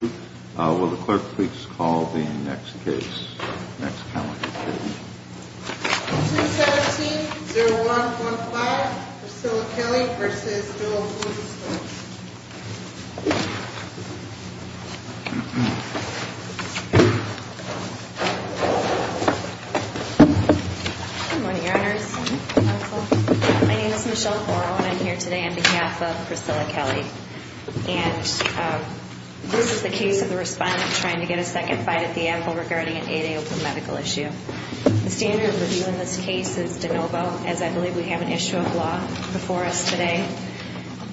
Will the clerk please call the next case. 2-17-01-15 Priscilla Kelly vs. Bill Gleeson. Good morning, Your Honors. My name is Michelle Horrell and I'm here today on behalf of Priscilla Kelly. And this is the case of the respondent trying to get a second bite at the apple regarding an 8-A open medical issue. The standard of review in this case is de novo, as I believe we have an issue of law before us today.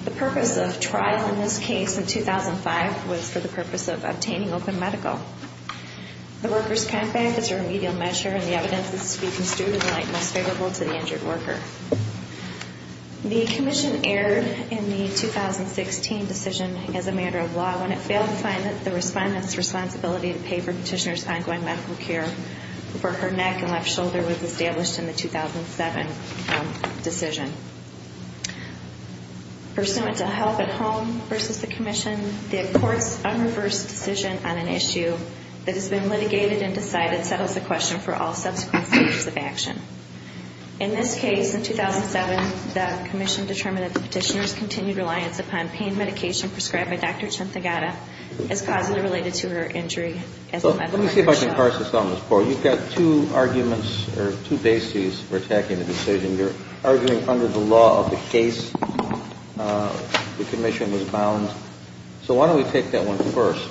The purpose of trial in this case in 2005 was for the purpose of obtaining open medical. The workers' comp'n is a remedial measure and the evidence is to be construed in the light most favorable to the injured worker. The commission erred in the 2016 decision as a matter of law when it failed to find the respondent's responsibility to pay for petitioner's ongoing medical care for her neck and left shoulder was established in the 2007 decision. Pursuant to Health at Home vs. the commission, the court's unreversed decision on an issue that has been litigated and decided settles the question for all subsequent stages of action. In this case, in 2007, the commission determined that the petitioner's continued reliance upon pain medication prescribed by Dr. Chanthagata is causally related to her injury. Let me see if I can parse this out, Ms. Poore. You've got two arguments or two bases for attacking the decision. You're arguing under the law of the case the commission was bound. So why don't we take that one first.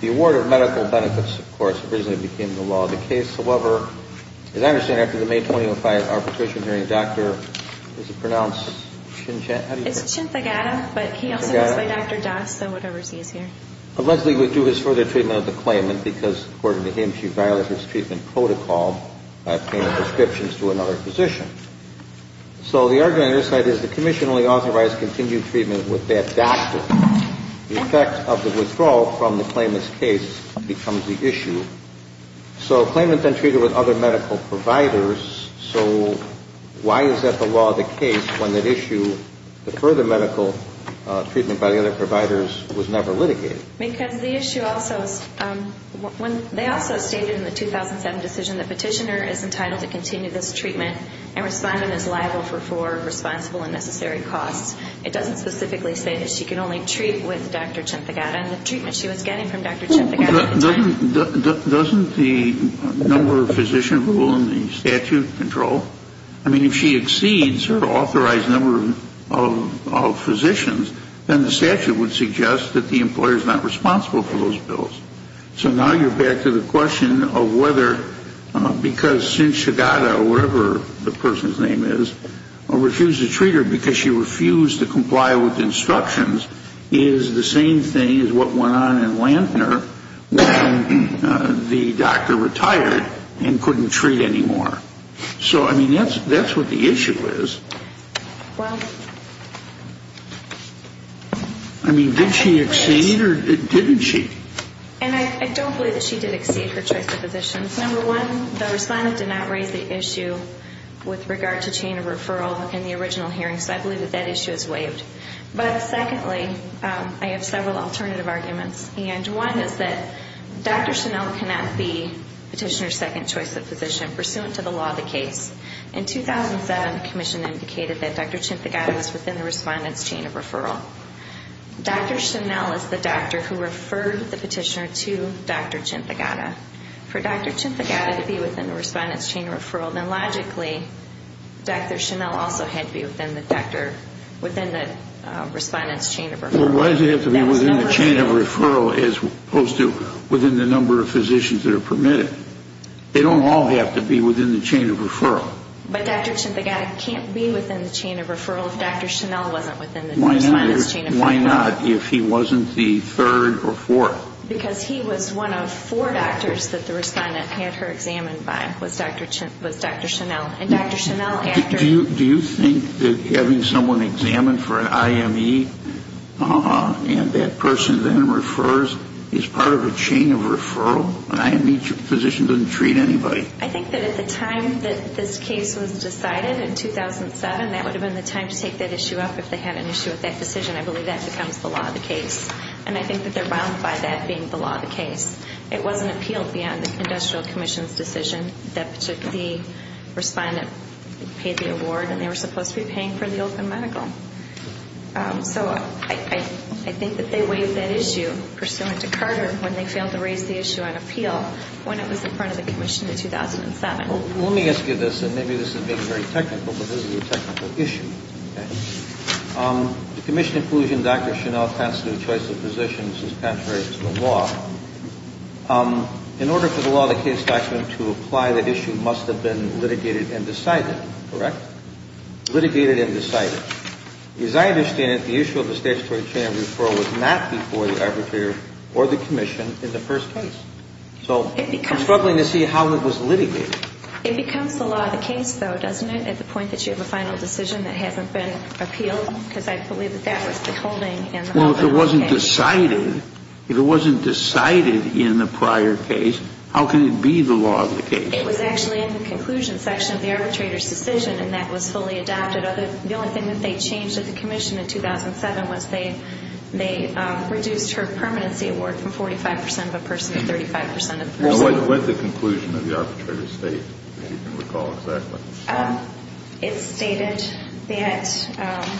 The award of medical benefits, of course, originally became the law of the case. However, as I understand, after the May 2005 arbitration hearing, Dr. is it pronounced Chanthagata? It's Chanthagata, but he also goes by Dr. Das, so whatever's easier. Leslie would do his further treatment of the claimant because, according to him, she violated his treatment protocol by paying prescriptions to another physician. So the argument on your side is the commission only authorized continued treatment with that doctor. The effect of the withdrawal from the claimant's case becomes the issue. So the claimant then treated with other medical providers. So why is that the law of the case when that issue, the further medical treatment by the other providers, was never litigated? Because the issue also is when they also stated in the 2007 decision the petitioner is entitled to continue this treatment and responding is liable for four responsible and necessary costs. It doesn't specifically say that she can only treat with Dr. Chanthagata and the treatment she was getting from Dr. Chanthagata at the time. Doesn't the number of physicians rule in the statute control? I mean, if she exceeds her authorized number of physicians, then the statute would suggest that the employer is not responsible for those bills. So now you're back to the question of whether because since Chanthagata or whatever the person's name is refused to treat her because she refused to comply with instructions is the same thing as what went on in Lantner when the doctor retired and couldn't treat anymore. I mean, that's what the issue is. I mean, did she exceed or didn't she? And I don't believe that she did exceed her choice of physicians. Number one, the respondent did not raise the issue with regard to chain of referral in the original hearing, so I believe that that issue is waived. But secondly, I have several alternative arguments. And one is that Dr. Chanel cannot be petitioner's second choice of physician pursuant to the law of the case. In 2007, the commission indicated that Dr. Chanthagata was within the respondent's chain of referral. Dr. Chanel is the doctor who referred the petitioner to Dr. Chanthagata. For Dr. Chanthagata to be within the respondent's chain of referral, then logically Dr. Chanel also had to be within the doctor, within the respondent's chain of referral. Well, why does it have to be within the chain of referral as opposed to within the number of physicians that are permitted? They don't all have to be within the chain of referral. But Dr. Chanthagata can't be within the chain of referral if Dr. Chanel wasn't within the respondent's chain of referral. Why not if he wasn't the third or fourth? Because he was one of four doctors that the respondent had her examined by, was Dr. Chanel. Do you think that having someone examined for an IME and that person then refers is part of a chain of referral? An IME physician doesn't treat anybody. I think that at the time that this case was decided in 2007, that would have been the time to take that issue up if they had an issue with that decision. I believe that becomes the law of the case. And I think that they're bound by that being the law of the case. It wasn't appealed beyond the industrial commission's decision that the respondent paid the award and they were supposed to be paying for the open medical. So I think that they waived that issue pursuant to Carter when they failed to raise the issue on appeal when it was in front of the commission in 2007. Let me ask you this, and maybe this is being very technical, but this is a technical issue. The commission inclusion Dr. Chanel Pant's new choice of physicians is contrary to the law. In order for the law of the case to actually apply the issue must have been litigated and decided, correct? Litigated and decided. As I understand it, the issue of the statutory chain of referral was not before the arbitrator or the commission in the first case. So I'm struggling to see how it was litigated. It becomes the law of the case, though, doesn't it, at the point that you have a final decision that hasn't been appealed? Well, if it wasn't decided, if it wasn't decided in the prior case, how can it be the law of the case? It was actually in the conclusion section of the arbitrator's decision, and that was fully adopted. The only thing that they changed at the commission in 2007 was they reduced her permanency award from 45 percent of a person to 35 percent of the person. What did the conclusion of the arbitrator state, if you can recall exactly? It stated that...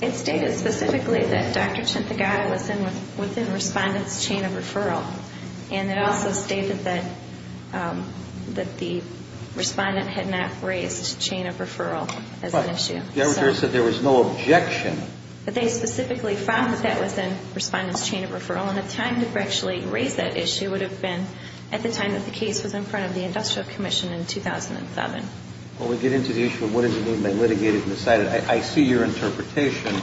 It stated specifically that Dr. Chintagata was within respondent's chain of referral, and it also stated that the respondent had not raised chain of referral as an issue. But the arbitrator said there was no objection. But they specifically found that that was in respondent's chain of referral, and the time to actually raise that issue would have been at the time that the case was in front of the industrial commission in 2007. Well, we get into the issue of what does it mean by litigated and decided. I see your interpretation,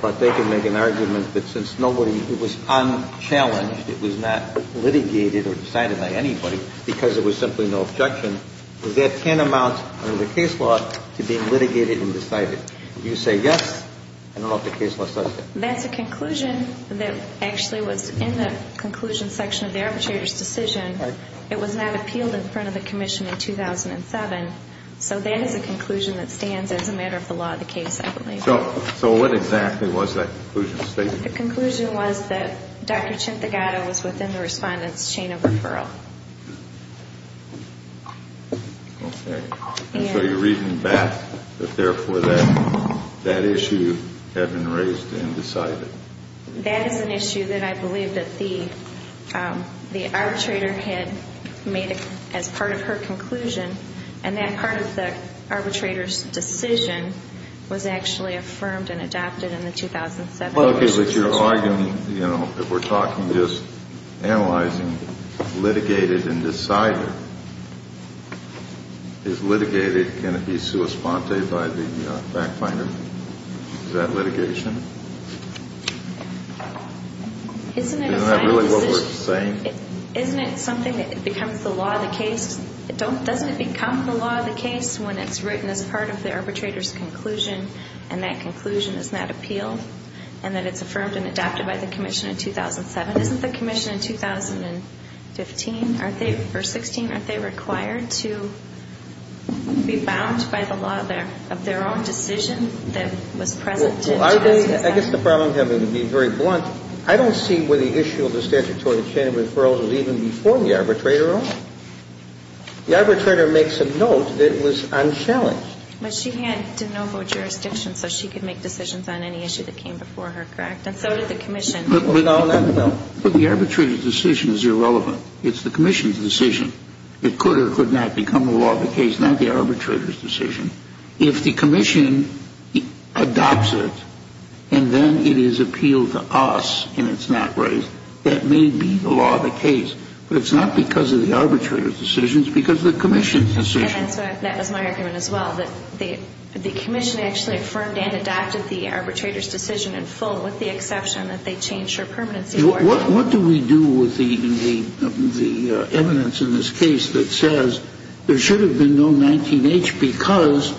but they can make an argument that since nobody, it was unchallenged, it was not litigated or decided by anybody, because there was simply no objection, does that tantamount under the case law to being litigated and decided? You say yes, I don't know if the case law says that. That's a conclusion that actually was in the conclusion section of the arbitrator's decision. It was not appealed in front of the commission in 2007, so that is a conclusion that stands as a matter of the law of the case, I believe. So what exactly was that conclusion stated? The conclusion was that Dr. Centegatto was within the respondent's chain of referral. Okay. So you're reading back, but therefore that issue had been raised and decided. That is an issue that I believe that the arbitrator had made as part of her conclusion, and that part of the arbitrator's decision was actually affirmed and adopted in the 2007 decision. Okay, but you're arguing, you know, that we're talking just analyzing litigated and decided. If litigated, can it be sua sponte by the fact finder? Is that litigation? Isn't it a final decision? Isn't that really what we're saying? Isn't it something that becomes the law of the case? Doesn't it become the law of the case when it's written as part of the arbitrator's conclusion and that conclusion is not appealed? And that it's affirmed and adopted by the commission in 2007? Isn't the commission in 2015, aren't they, or 16, aren't they required to be bound by the law of their own decision that was present in 2007? Well, are they? I guess the problem would be very blunt. I don't see where the issue of the statutory chain of referrals was even before the arbitrator at all. The arbitrator makes a note that it was unchallenged. But she had de novo jurisdiction so she could make decisions on any issue that came before her, correct? And so did the commission. But the arbitrator's decision is irrelevant. It's the commission's decision. It could or could not become the law of the case, not the arbitrator's decision. If the commission adopts it and then it is appealed to us and it's not raised, that may be the law of the case. But it's not because of the arbitrator's decision. It's because of the commission's decision. That was my argument as well, that the commission actually affirmed and adopted the arbitrator's decision in full, with the exception that they changed her permanency award. What do we do with the evidence in this case that says there should have been no 19-H because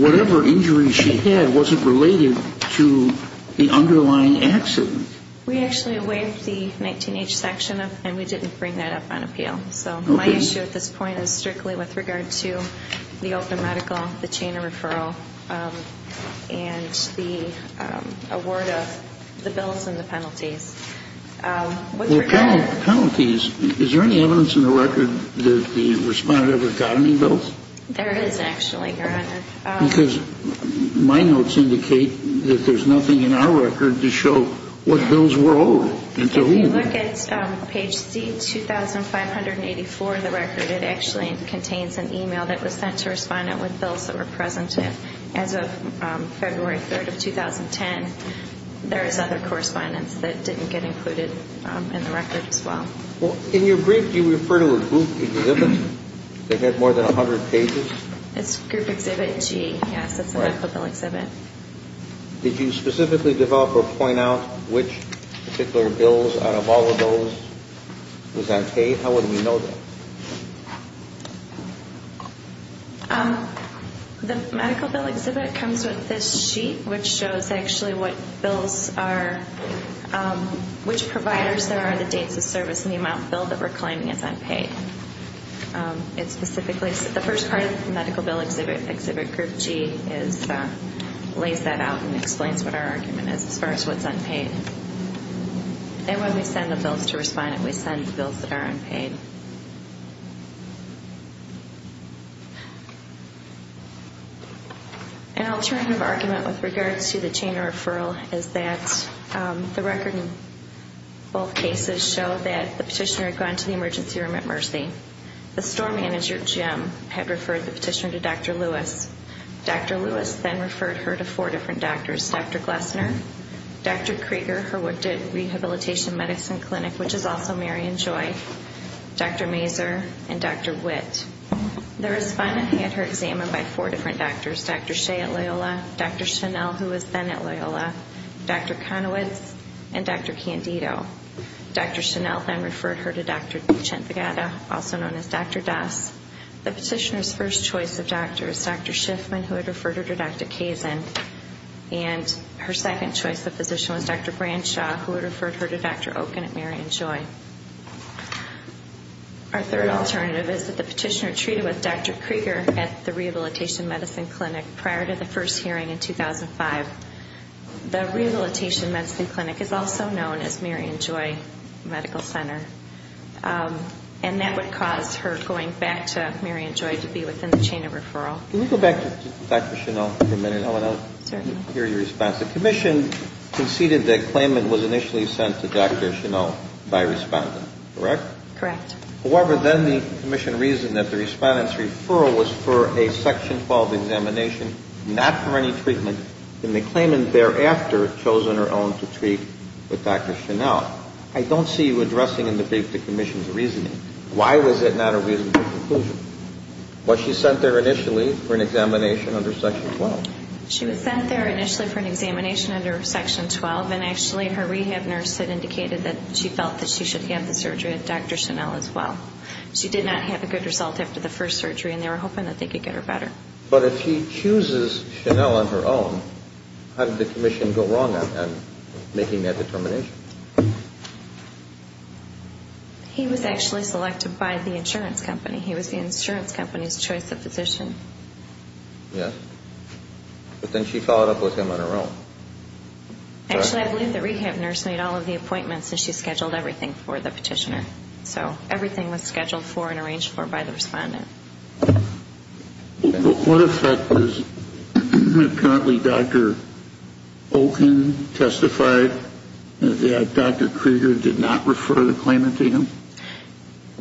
whatever injury she had wasn't related to the underlying accident? We actually waived the 19-H section and we didn't bring that up on appeal. So my issue at this point is strictly with regard to the open medical, the chain of referral, and the award of the bills and the penalties. With regard to penalties, is there any evidence in the record that the respondent ever got any bills? There is, actually, Your Honor. Because my notes indicate that there's nothing in our record to show what bills were owed and to whom. If you look at page C2584 of the record, it actually contains an e-mail that was sent to a respondent with bills that were present. As of February 3rd of 2010, there is other correspondence that didn't get included in the record as well. In your brief, do you refer to a group exhibit that had more than 100 pages? It's group exhibit G, yes. It's an equitable exhibit. Did you specifically develop or point out which particular bills out of all of those was unpaid? How would we know that? The medical bill exhibit comes with this sheet which shows actually what bills are, which providers there are, the dates of service, and the amount billed that we're claiming is unpaid. The first part of the medical bill exhibit, group G, lays that out and explains what our argument is as far as what's unpaid. And when we send the bills to respondent, we send bills that are unpaid. An alternative argument with regards to the chain of referral is that the record in both cases show that the petitioner had gone to the emergency room at Mercy. The store manager, Jim, had referred the petitioner to Dr. Lewis. Dr. Lewis then referred her to four different doctors, Dr. Glessner, Dr. Krieger, her Wooded Rehabilitation Medicine Clinic, which is also Mary and Joy, Dr. Meehan, and Dr. Meehan. Dr. Mazur, and Dr. Witt. The respondent had her examined by four different doctors, Dr. Shea at Loyola, Dr. Chenelle, who was then at Loyola, Dr. Conowitz, and Dr. Candido. Dr. Chenelle then referred her to Dr. Dichentegada, also known as Dr. Das. The petitioner's first choice of doctor is Dr. Schiffman, who had referred her to Dr. Kazin. And her second choice of physician was Dr. Branshaw, who had referred her to Dr. Oken at Mary and Joy. Our third alternative is that the petitioner treated with Dr. Krieger at the Rehabilitation Medicine Clinic prior to the first hearing in 2005. The Rehabilitation Medicine Clinic is also known as Mary and Joy Medical Center. And that would cause her going back to Mary and Joy to be within the chain of referral. Can we go back to Dr. Chenelle for a minute? I want to hear your response. The commission conceded that claimant was initially sent to Dr. Chenelle by respondent, correct? Correct. However, then the commission reasoned that the respondent's referral was for a Section 12 examination, not for any treatment. And the claimant thereafter chosen her own to treat with Dr. Chenelle. I don't see you addressing in the brief the commission's reasoning. Why was it not a reasonable conclusion? Was she sent there initially for an examination under Section 12? She was sent there initially for an examination under Section 12. And actually her rehab nurse had indicated that she felt that she should have the surgery at Dr. Chenelle as well. She did not have a good result after the first surgery, and they were hoping that they could get her better. But if she chooses Chenelle on her own, how did the commission go wrong on making that determination? He was actually selected by the insurance company. He was the insurance company's choice of physician. Yes. But then she followed up with him on her own. Actually, I believe the rehab nurse made all of the appointments, and she scheduled everything for the petitioner. So everything was scheduled for and arranged for by the respondent. What effect was apparently Dr. Oken testified that Dr. Krieger did not refer the claimant to him?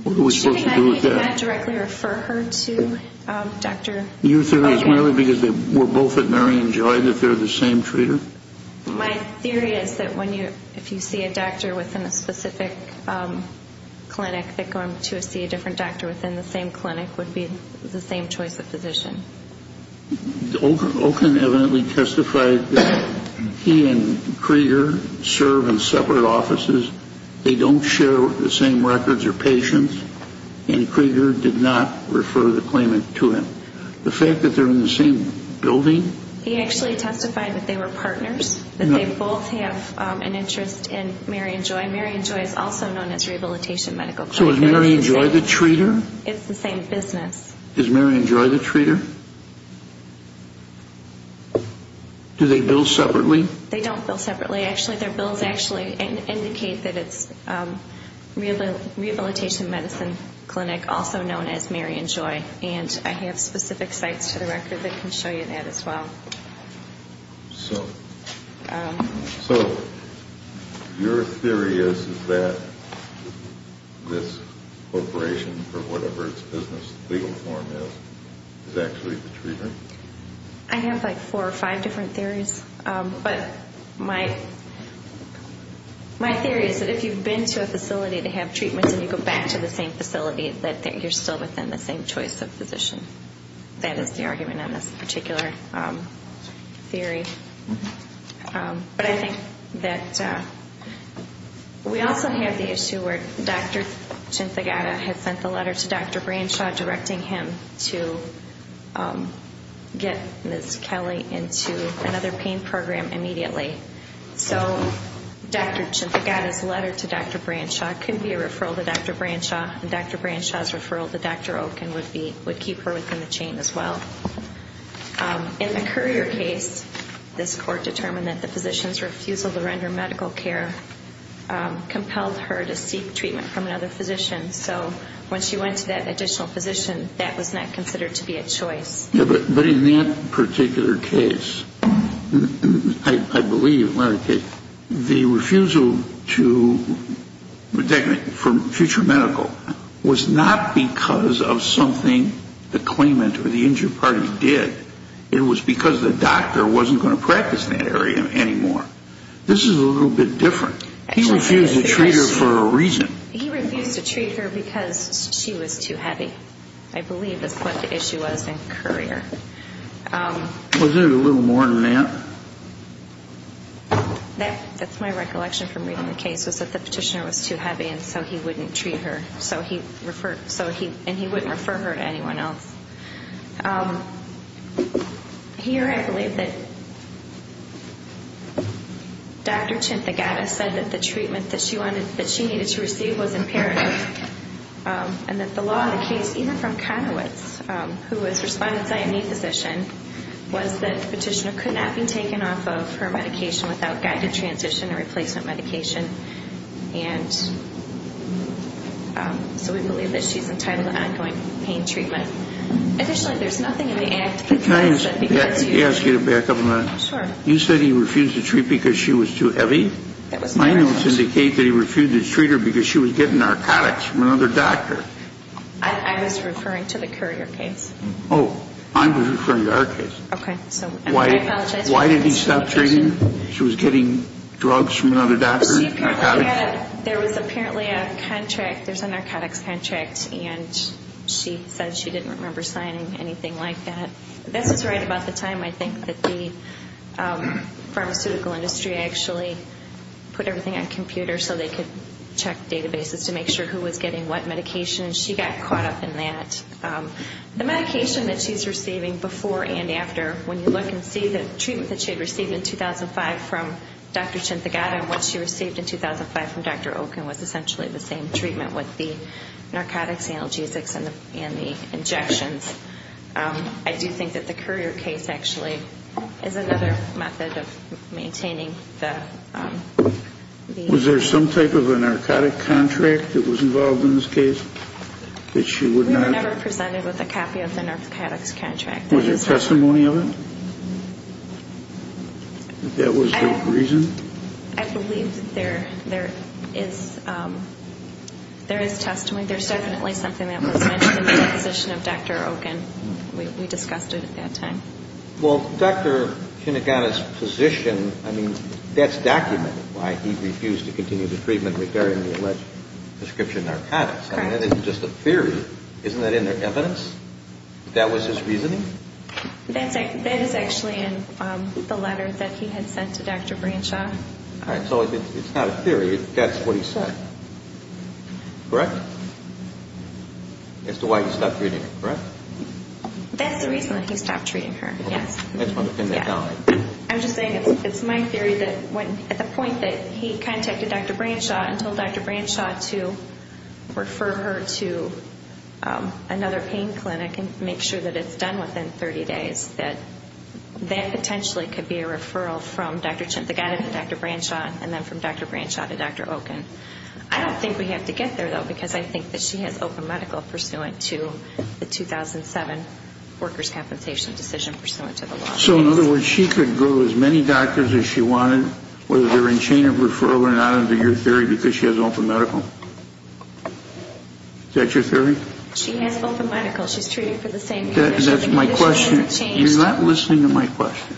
What are we supposed to do with that? Do you think I can't directly refer her to Dr. Oken? Your theory is merely because they were both at Marion Joy that they're the same treater? My theory is that if you see a doctor within a specific clinic, that going to see a different doctor within the same clinic would be the same choice of physician. Oken evidently testified that he and Krieger serve in separate offices. They don't share the same records or patients, and Krieger did not refer the claimant to him. The fact that they're in the same building? He actually testified that they were partners, that they both have an interest in Marion Joy. Marion Joy is also known as Rehabilitation Medical Clinic. So is Marion Joy the treater? It's the same business. Is Marion Joy the treater? Do they bill separately? They don't bill separately. Their bills actually indicate that it's Rehabilitation Medicine Clinic, also known as Marion Joy. And I have specific sites to the record that can show you that as well. So your theory is that this corporation, for whatever its business legal form is, is actually the treater? I have like four or five different theories. But my theory is that if you've been to a facility to have treatments and you go back to the same facility, that you're still within the same choice of physician. That is the argument on this particular theory. But I think that we also have the issue where Dr. Chinthagata has sent the letter to Dr. Branshaw directing him to get Ms. Kelly into another pain program immediately. So Dr. Chinthagata's letter to Dr. Branshaw could be a referral to Dr. Branshaw, and Dr. Branshaw's referral to Dr. Oken would keep her within the chain as well. In the Currier case, this court determined that the physician's refusal to render medical care compelled her to seek treatment from another physician. So when she went to that additional physician, that was not considered to be a choice. But in that particular case, I believe, the refusal to, for future medical, was not because of something the claimant or the injured party did. It was because the doctor wasn't going to practice in that area anymore. This is a little bit different. He refused to treat her for a reason. He refused to treat her because she was too heavy. I believe that's what the issue was in Currier. Wasn't it a little more than that? That's my recollection from reading the case, was that the petitioner was too heavy and so he wouldn't treat her. And he wouldn't refer her to anyone else. Here I believe that Dr. Chinthagata said that the treatment that she needed to receive was imperative and that the law of the case, even from Conowitz, who was Respondent's IME physician, was that the petitioner could not be taken off of her medication without guided transition and replacement medication. And so we believe that she's entitled to ongoing pain treatment. Additionally, there's nothing in the act that prevents that. Can I ask you to back up a minute? Sure. You said he refused to treat because she was too heavy? That was my reference. My notes indicate that he refused to treat her because she was getting narcotics from another doctor. I was referring to the Currier case. Oh, I was referring to our case. Okay. Why did he stop treating her? She was getting drugs from another doctor, narcotics? There was apparently a contract, there's a narcotics contract, and she said she didn't remember signing anything like that. This is right about the time I think that the pharmaceutical industry actually put everything on computers so they could check databases to make sure who was getting what medication, and she got caught up in that. The medication that she's receiving before and after, when you look and see the treatment that she had received in 2005 from Dr. Chintagata and what she received in 2005 from Dr. Oken was essentially the same treatment with the narcotics, analgesics, and the injections. I do think that the Currier case actually is another method of maintaining the... Was there some type of a narcotic contract that was involved in this case that she would not... We were never presented with a copy of the narcotics contract. Was there testimony of it? That that was the reason? I believe that there is testimony. There's definitely something that was mentioned in the position of Dr. Oken. We discussed it at that time. Well, Dr. Chintagata's position, I mean, that's documented why he refused to continue the treatment with varying prescription narcotics. Correct. That's not documented. It's just a theory. Isn't that in their evidence that that was his reasoning? That is actually in the letter that he had sent to Dr. Branshaw. All right. So it's not a theory. That's what he said. Correct? As to why he stopped treating her, correct? That's the reason that he stopped treating her, yes. I'm just saying it's my theory that at the point that he contacted Dr. Branshaw and told Dr. Branshaw to refer her to another pain clinic and make sure that it's done within 30 days, that that potentially could be a referral from Dr. Chintagata to Dr. Branshaw and then from Dr. Branshaw to Dr. Oken. I don't think we have to get there, though, because I think that she has open medical pursuant to the 2007 workers' compensation decision pursuant to the law. So, in other words, she could go to as many doctors as she wanted, whether they're in chain of referral or not under your theory because she has open medical. Is that your theory? She has open medical. She's treated for the same conditions. That's my question. You're not listening to my question.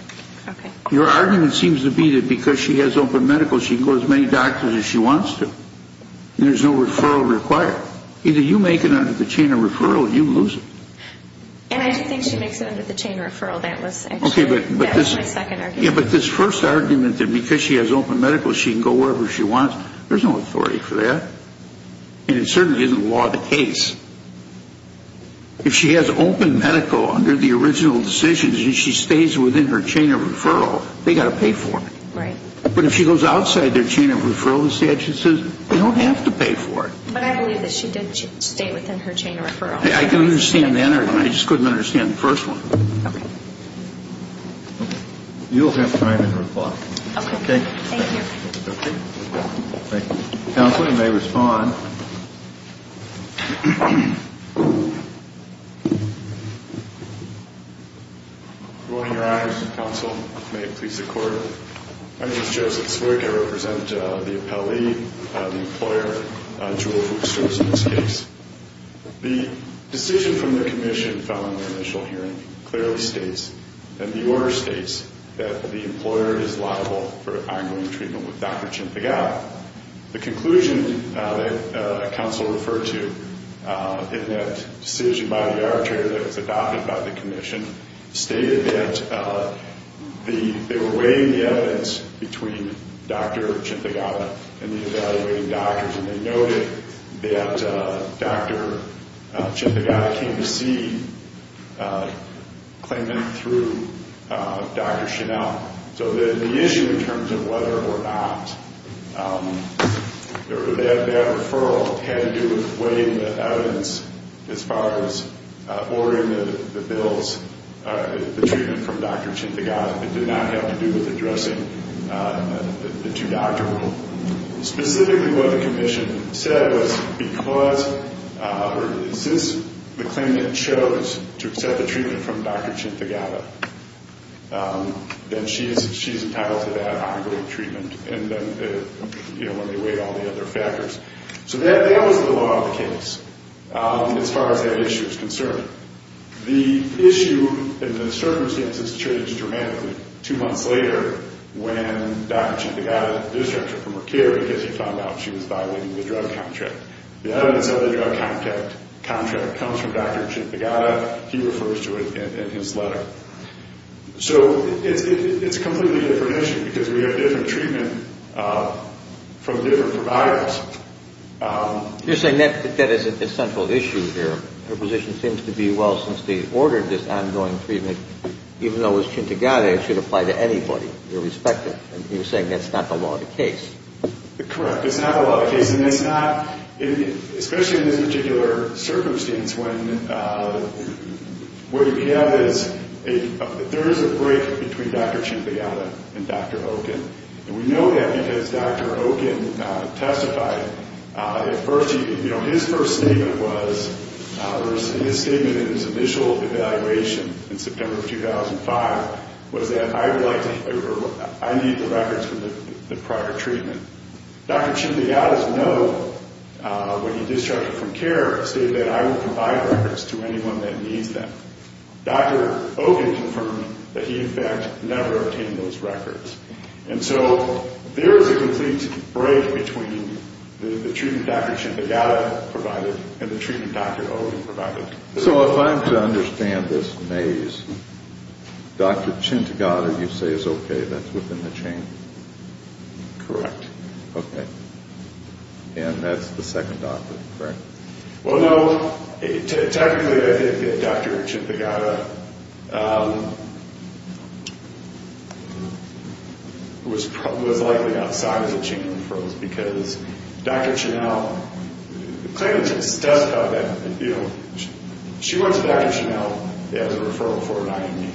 Okay. Your argument seems to be that because she has open medical, she can go to as many doctors as she wants to. There's no referral required. Either you make it under the chain of referral or you lose it. And I do think she makes it under the chain of referral. That was actually my second argument. Yeah, but this first argument that because she has open medical, she can go wherever she wants, there's no authority for that. And it certainly isn't law of the case. If she has open medical under the original decisions and she stays within her chain of referral, they've got to pay for it. Right. But if she goes outside their chain of referral, the statute says, they don't have to pay for it. But I believe that she did stay within her chain of referral. I can understand that argument. I just couldn't understand the first one. Okay. You'll have time in reply. Okay. Thank you. Okay. Thank you. Counselor, you may respond. Your Honor, counsel, may it please the Court. My name is Joseph Swig. The decision from the commission following the initial hearing clearly states, and the order states, that the employer is liable for ongoing treatment with Dr. Chimpagala. The conclusion that counsel referred to in that decision by the arbitrator that was adopted by the commission stated that they were weighing the evidence between Dr. Chimpagala and the evaluating doctors, and they noted that Dr. Chimpagala came to see a claimant through Dr. Chanel. So the issue in terms of whether or not that referral had to do with weighing the evidence as far as ordering the bills, the treatment from Dr. Chimpagala, did not have to do with addressing the two doctors. Specifically, what the commission said was, because or since the claimant chose to accept the treatment from Dr. Chimpagala, then she is entitled to that ongoing treatment, and then, you know, when they weighed all the other factors. So that was the law of the case as far as that issue is concerned. The issue and the circumstances changed dramatically two months later when Dr. Chimpagala disrupted from her care because she found out she was violating the drug contract. The evidence of the drug contract comes from Dr. Chimpagala. He refers to it in his letter. So it's a completely different issue because we have different treatment from different providers. You're saying that is a central issue here. Her position seems to be, well, since they ordered this ongoing treatment, even though it was Chimpagala, it should apply to anybody, irrespective. You're saying that's not the law of the case. Correct. It's not the law of the case. And it's not, especially in this particular circumstance when what we have is, there is a break between Dr. Chimpagala and Dr. Hogan. And we know that because Dr. Hogan testified. His first statement was, in his statement in his initial evaluation in September of 2005, was that I need the records from the prior treatment. Dr. Chimpagala's note when he disrupted from care stated that I will provide records to anyone that needs them. Dr. Hogan confirmed that he, in fact, never obtained those records. And so there is a complete break between the treatment Dr. Chimpagala provided and the treatment Dr. Hogan provided. So if I'm to understand this maze, Dr. Chimpagala you say is okay, that's within the chain? Correct. Okay. And that's the second doctor, correct? Well, no, technically I think that Dr. Chimpagala was likely outside of the chain of referrals because Dr. Chenelle, the claimant just testified that, you know, she went to Dr. Chenelle as a referral for an IME.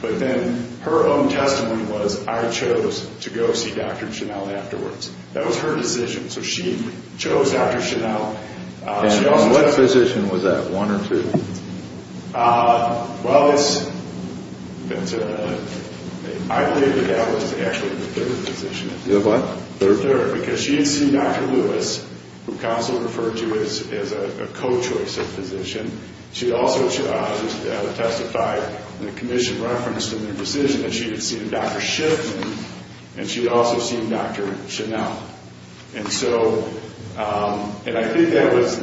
But then her own testimony was I chose to go see Dr. Chenelle afterwards. That was her decision. So she chose Dr. Chenelle. And on what position was that, one or two? Well, I believe that that was actually the third position. The what? Third? Third, because she had seen Dr. Lewis, who counsel referred to as a co-choice of physician. She also testified in the commission reference to the decision that she had seen Dr. Shipman. And she had also seen Dr. Chenelle. And so I think that was,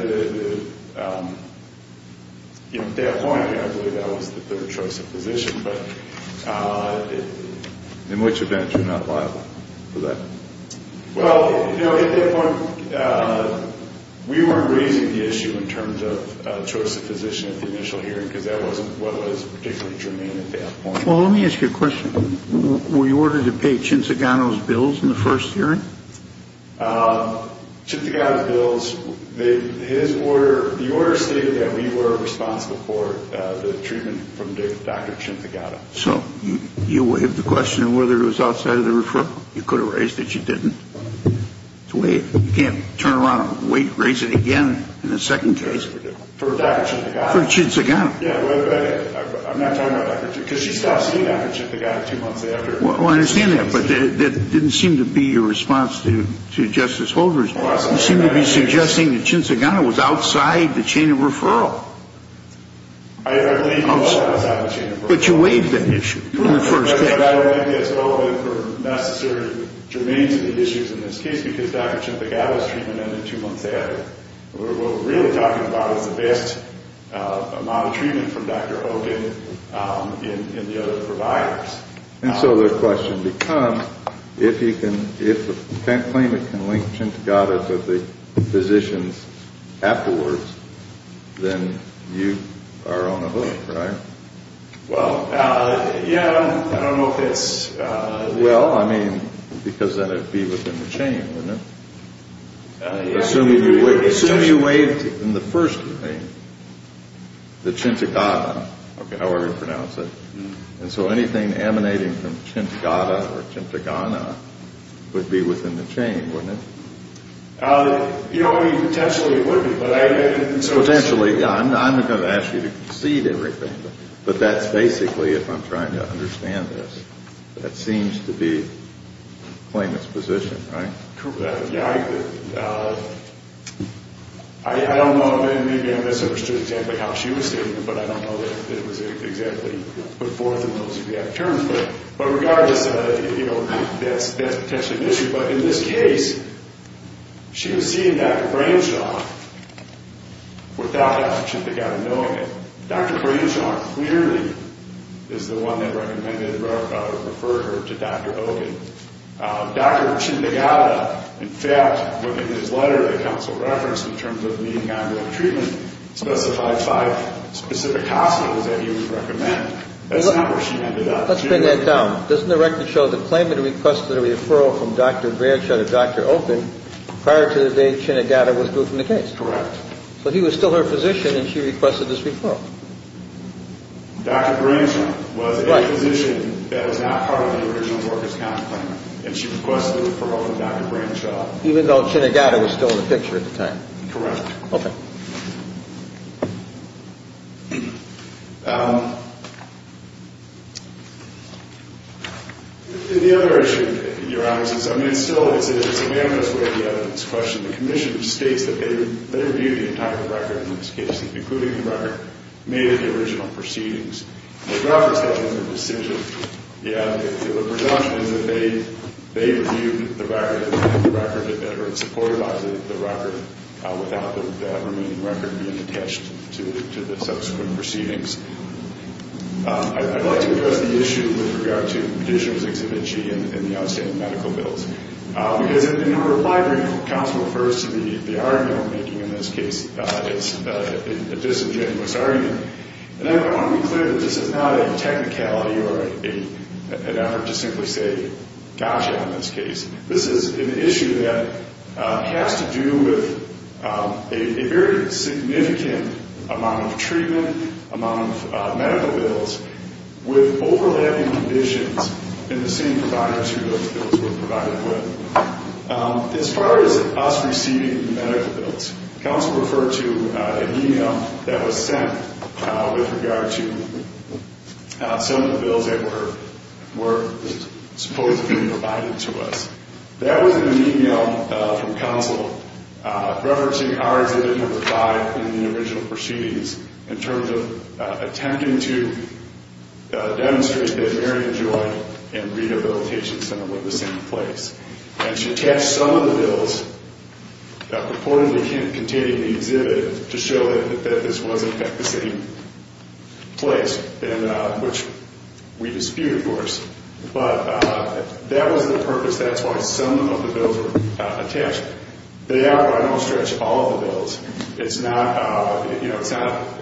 you know, at that point I believe that was the third choice of physician. In which event you're not liable for that? Well, you know, at that point we weren't raising the issue in terms of choice of physician at the initial hearing because that wasn't what was particularly germane at that point. Well, let me ask you a question. Were you ordered to pay Chinzigano's bills in the first hearing? Chinzigano's bills, his order, the order stated that we were responsible for the treatment from Dr. Chinzigano. So you waived the question of whether it was outside of the referral? You could have raised that you didn't. You can't turn around and raise it again in the second case. For Dr. Chinzigano. For Chinzigano. I'm not talking about Dr. Chinzigano. Because she stopped seeing Dr. Chinzigano two months after. Well, I understand that. But that didn't seem to be your response to Justice Holder's. You seemed to be suggesting that Chinzigano was outside the chain of referral. I believe he was outside the chain of referral. But you waived that issue in the first case. But I don't think that's relevant for necessary germane to the issues in this case because Dr. Chinzigano's treatment ended two months after. What we're really talking about is the best amount of treatment from Dr. Hogan in the other providers. And so the question becomes, if you can't claim it can link Chinzigano to the physicians afterwards, then you are on a hook, right? Well, yeah, I don't know if it's... Well, I mean, because then it would be within the chain, wouldn't it? Assuming you waived in the first thing the Chinzigano, however you pronounce it. And so anything emanating from Chinzigano or Chinzigana would be within the chain, wouldn't it? You know, I mean, potentially it would be. Potentially, yeah. I'm not going to ask you to concede everything. But that's basically, if I'm trying to understand this, that seems to be the claimant's position, right? Yeah, I don't know. Maybe I misunderstood exactly how she was stating it, but I don't know that it was exactly put forth in those exact terms. But regardless, you know, that's potentially an issue. But in this case, she was seeing Dr. Branshaw without Dr. Chinzigano knowing it. Dr. Branshaw clearly is the one that recommended or referred her to Dr. Hogan. Dr. Chinzigano, in fact, within his letter that counsel referenced in terms of needing ongoing treatment, specified five specific hospitals that he would recommend. That's not where she ended up. Let's bring that down. Doesn't the record show that the claimant requested a referral from Dr. Branshaw to Dr. Hogan prior to the day Chinzigano withdrew from the case? Correct. So he was still her physician, and she requested this referral. Dr. Branshaw was a physician that was not part of the original workers' county claimant, and she requested a referral from Dr. Branshaw. Even though Chinzigano was still in the picture at the time. Correct. Okay. The other issue, Your Honor, is I mean, still, it's a unanimous way of the evidence question. The commission states that they reviewed the entire record in this case, including the record made at the original proceedings. The record states it was a decision. Yeah. The presumption is that they reviewed the record and supported the record without the remaining record being attached to the subsequent proceedings. I'd like to address the issue with regard to Petitioner's Exhibit G and the outstanding medical bills. Because in her reply brief, counsel refers to the argument we're making in this case as a disingenuous argument. And I want to be clear that this is not a technicality or an effort to simply say, gosh, on this case. This is an issue that has to do with a very significant amount of treatment, amount of medical bills, with overlapping conditions in the same providers who those bills were provided with. As far as us receiving the medical bills, counsel referred to an e-mail that was sent with regard to some of the bills that were supposed to be provided to us. That was an e-mail from counsel referencing our Exhibit No. 5 in the original proceedings in terms of attempting to demonstrate that Marion Joy and Rehabilitation Center were the same place. And she attached some of the bills purportedly containing the exhibit to show that this was, in fact, the same place, which we dispute, of course. But that was the purpose. That's why some of the bills were attached. They outright don't stretch all of the bills. It's not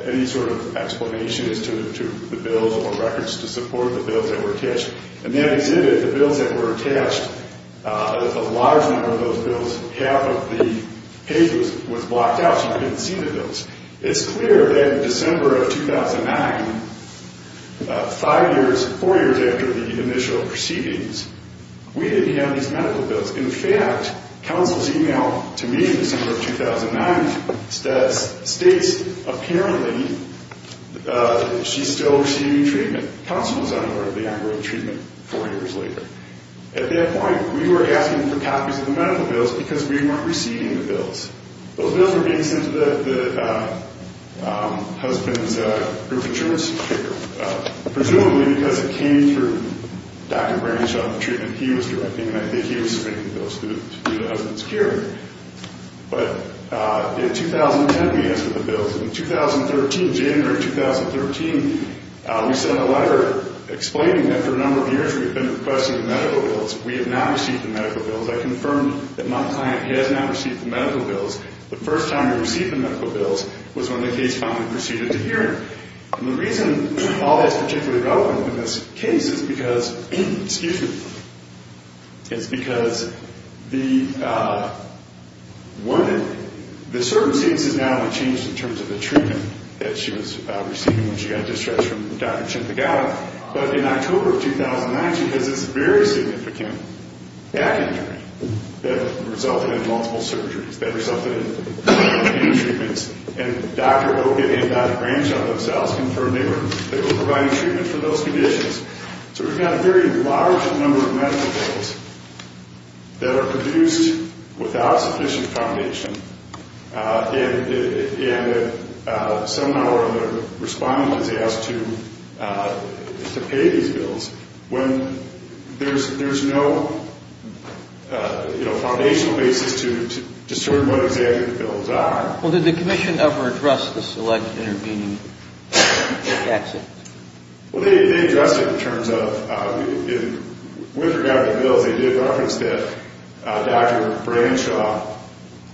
any sort of explanation as to the bills or records to support the bills that were attached. In that exhibit, the bills that were attached, a large number of those bills, half of the page was blocked out so you couldn't see the bills. It's clear that in December of 2009, five years, four years after the initial proceedings, we didn't have these medical bills. In fact, counsel's e-mail to me in December of 2009 states apparently she's still receiving treatment. Counsel was unaware of the ongoing treatment four years later. At that point, we were asking for copies of the medical bills because we weren't receiving the bills. Those bills were being sent to the husband's group of insurance people, presumably because it came through Dr. Branshaw, the treatment he was directing, and I think he was submitting those to the husband's care. But in 2010, we answered the bills. In 2013, January 2013, we sent a letter explaining that for a number of years we had been requesting the medical bills. We had not received the medical bills. I confirmed that my client has not received the medical bills. The first time we received the medical bills was when the case finally proceeded to hearing. And the reason all that's particularly relevant in this case is because, excuse me, is because the circumstances now have changed in terms of the treatment that she was receiving when she got distressed from Dr. Chimpagala. But in October of 2019, because it's a very significant back injury that resulted in multiple surgeries, that resulted in many treatments, and Dr. Oka and Dr. Branshaw themselves confirmed they were providing treatment for those conditions. So we've got a very large number of medical bills that are produced without sufficient foundation, and somehow or other the respondent is asked to pay these bills when there's no foundational basis to determine what exactly the bills are. Well, did the commission ever address the select intervening accident? Well, they addressed it in terms of, with regard to the bills, they did reference that Dr. Branshaw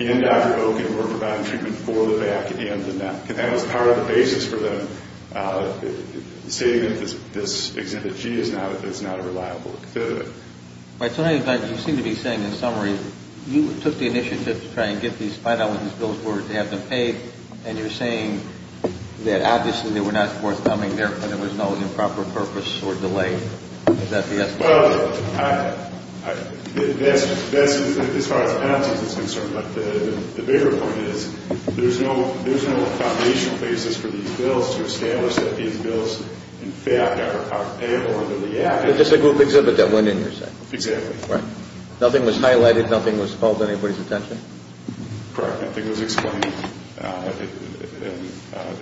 and Dr. Oka were providing treatment for the back and the neck. That was part of the basis for them stating that this Exhibit G is not a reliable exhibit. By the way, you seem to be saying, in summary, you took the initiative to try and get these five dollars that those were to have them paid, and you're saying that obviously they were not worth coming there when there was no improper purpose or delay. Is that the estimate? Well, as far as penalties is concerned, the bigger point is there's no foundational basis for these bills to establish that these bills, in fact, are payable in reality. It's just a group exhibit that went in your set. Exactly. Right. Nothing was highlighted, nothing was called to anybody's attention? Correct. I think it was explained.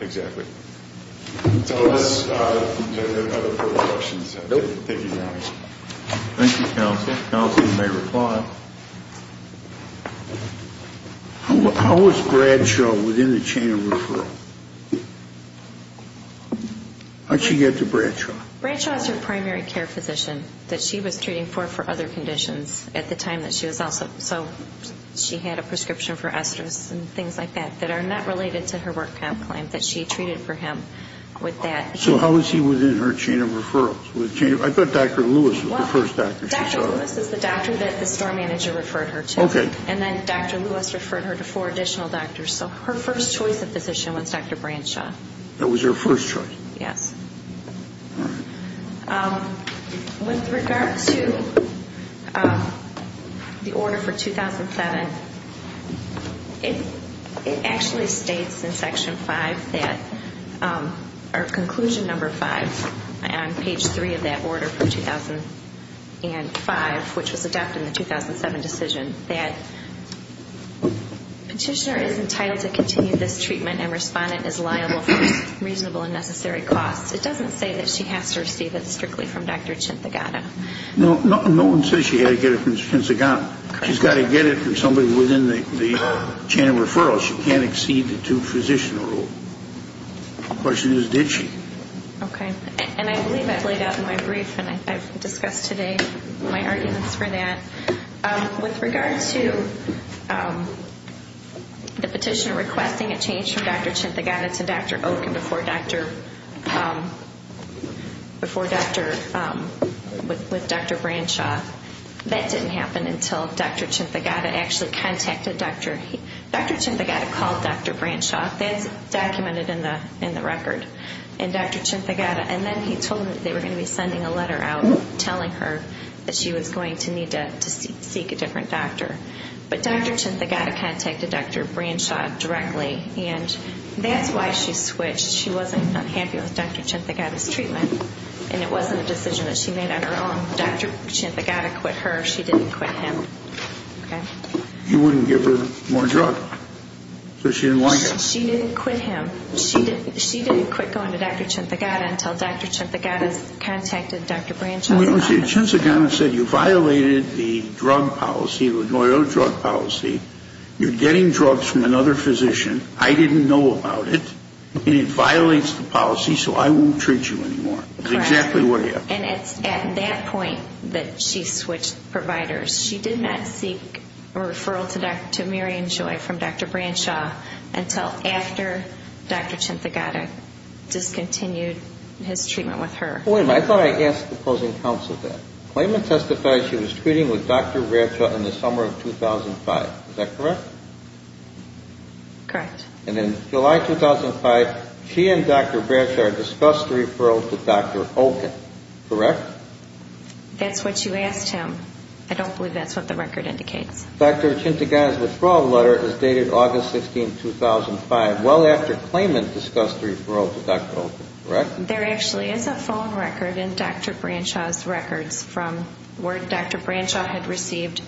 Exactly. So are there other further questions? Nope. Thank you, Your Honor. Thank you, Counsel. Counsel may reply. How was Branshaw within the chain of referral? How'd she get to Branshaw? Branshaw is her primary care physician that she was treating for for other conditions at the time that she was also so she had a prescription for estrus and things like that that are not related to her work camp claim that she treated for him with that. So how was he within her chain of referrals? I thought Dr. Lewis was the first doctor she saw. Well, Dr. Lewis is the doctor that the store manager referred her to. Okay. And then Dr. Lewis referred her to four additional doctors. So her first choice of physician was Dr. Branshaw. That was her first choice? Yes. With regard to the order for 2007, it actually states in Section 5, or Conclusion Number 5, on page 3 of that order for 2005, which was adopted in the 2007 decision, that petitioner is entitled to continue this treatment and respondent is liable for reasonable and necessary costs. It doesn't say that she has to receive it strictly from Dr. Chinthagata. No one says she had to get it from Chinthagata. She's got to get it from somebody within the chain of referrals. She can't exceed the two-physician rule. The question is, did she? Okay. And I believe I laid out in my brief, and I've discussed today my arguments for that. With regard to the petitioner requesting a change from Dr. Chinthagata to Dr. Oken before Dr. Branshaw, that didn't happen until Dr. Chinthagata actually contacted Dr. Oken. Dr. Chinthagata called Dr. Branshaw. That's documented in the record, and Dr. Chinthagata. And then he told them that they were going to be sending a letter out telling her that she was going to need to seek a different doctor. But Dr. Chinthagata contacted Dr. Branshaw directly, and that's why she switched. She wasn't happy with Dr. Chinthagata's treatment, and it wasn't a decision that she made on her own. Dr. Chinthagata quit her. She didn't quit him. You wouldn't give her more drug? So she didn't like it? She didn't quit him. She didn't quit going to Dr. Chinthagata until Dr. Chinthagata contacted Dr. Branshaw. Chinthagata said you violated the drug policy, the loyal drug policy. You're getting drugs from another physician. I didn't know about it, and it violates the policy, so I won't treat you anymore. That's exactly what happened. And it's at that point that she switched providers. She did not seek a referral to Maryann Joy from Dr. Branshaw until after Dr. Chinthagata discontinued his treatment with her. Wait a minute. I thought I asked the opposing counsel that. Claimant testified she was treating with Dr. Branshaw in the summer of 2005. Is that correct? Correct. And in July 2005, she and Dr. Branshaw discussed a referral to Dr. Oken. Correct? That's what you asked him. I don't believe that's what the record indicates. Dr. Chinthagata's withdrawal letter is dated August 16, 2005, well after claimant discussed the referral to Dr. Oken. Correct? There actually is a phone record in Dr. Branshaw's records from where Dr. Branshaw had received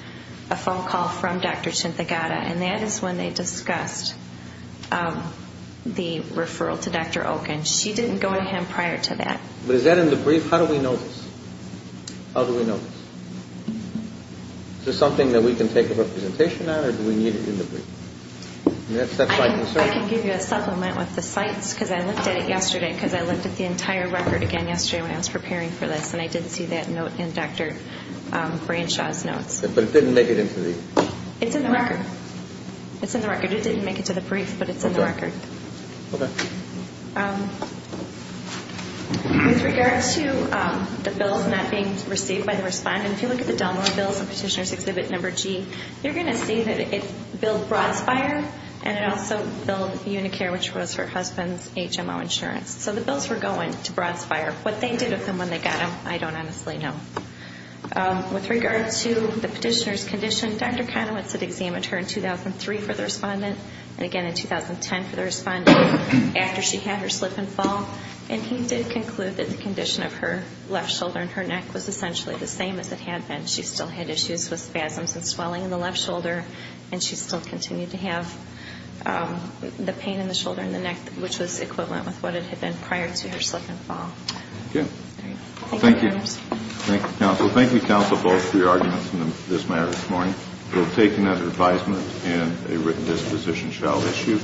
a phone call from Dr. Chinthagata, and that is when they discussed the referral to Dr. Oken. She didn't go to him prior to that. But is that in the brief? How do we know this? Is this something that we can take a representation on, or do we need it in the brief? That's my concern. I can give you a supplement with the sites, because I looked at it yesterday, because I looked at the entire record again yesterday when I was preparing for this, and I did see that note in Dr. Branshaw's notes. But it didn't make it into the brief. It's in the record. It's in the record. It didn't make it to the brief, but it's in the record. Okay. With regard to the bills not being received by the respondent, if you look at the Delmar bills in Petitioner's Exhibit Number G, you're going to see that it billed Broadspire, and it also billed Unicare, which was her husband's HMO insurance. So the bills were going to Broadspire. What they did with them when they got them, I don't honestly know. With regard to the petitioner's condition, Dr. Conowitz had examined her in 2003 for the respondent, and again in 2010 for the respondent, after she had her slip and fall, and he did conclude that the condition of her left shoulder and her neck was essentially the same as it had been. She still had issues with spasms and swelling in the left shoulder, and she still continued to have the pain in the shoulder and the neck, which was equivalent with what it had been prior to her slip and fall. Okay. Thank you. Thank you, counsel. Thank you, counsel, both, for your arguments in this matter this morning. We'll take another advisement, and a written disposition shall issue.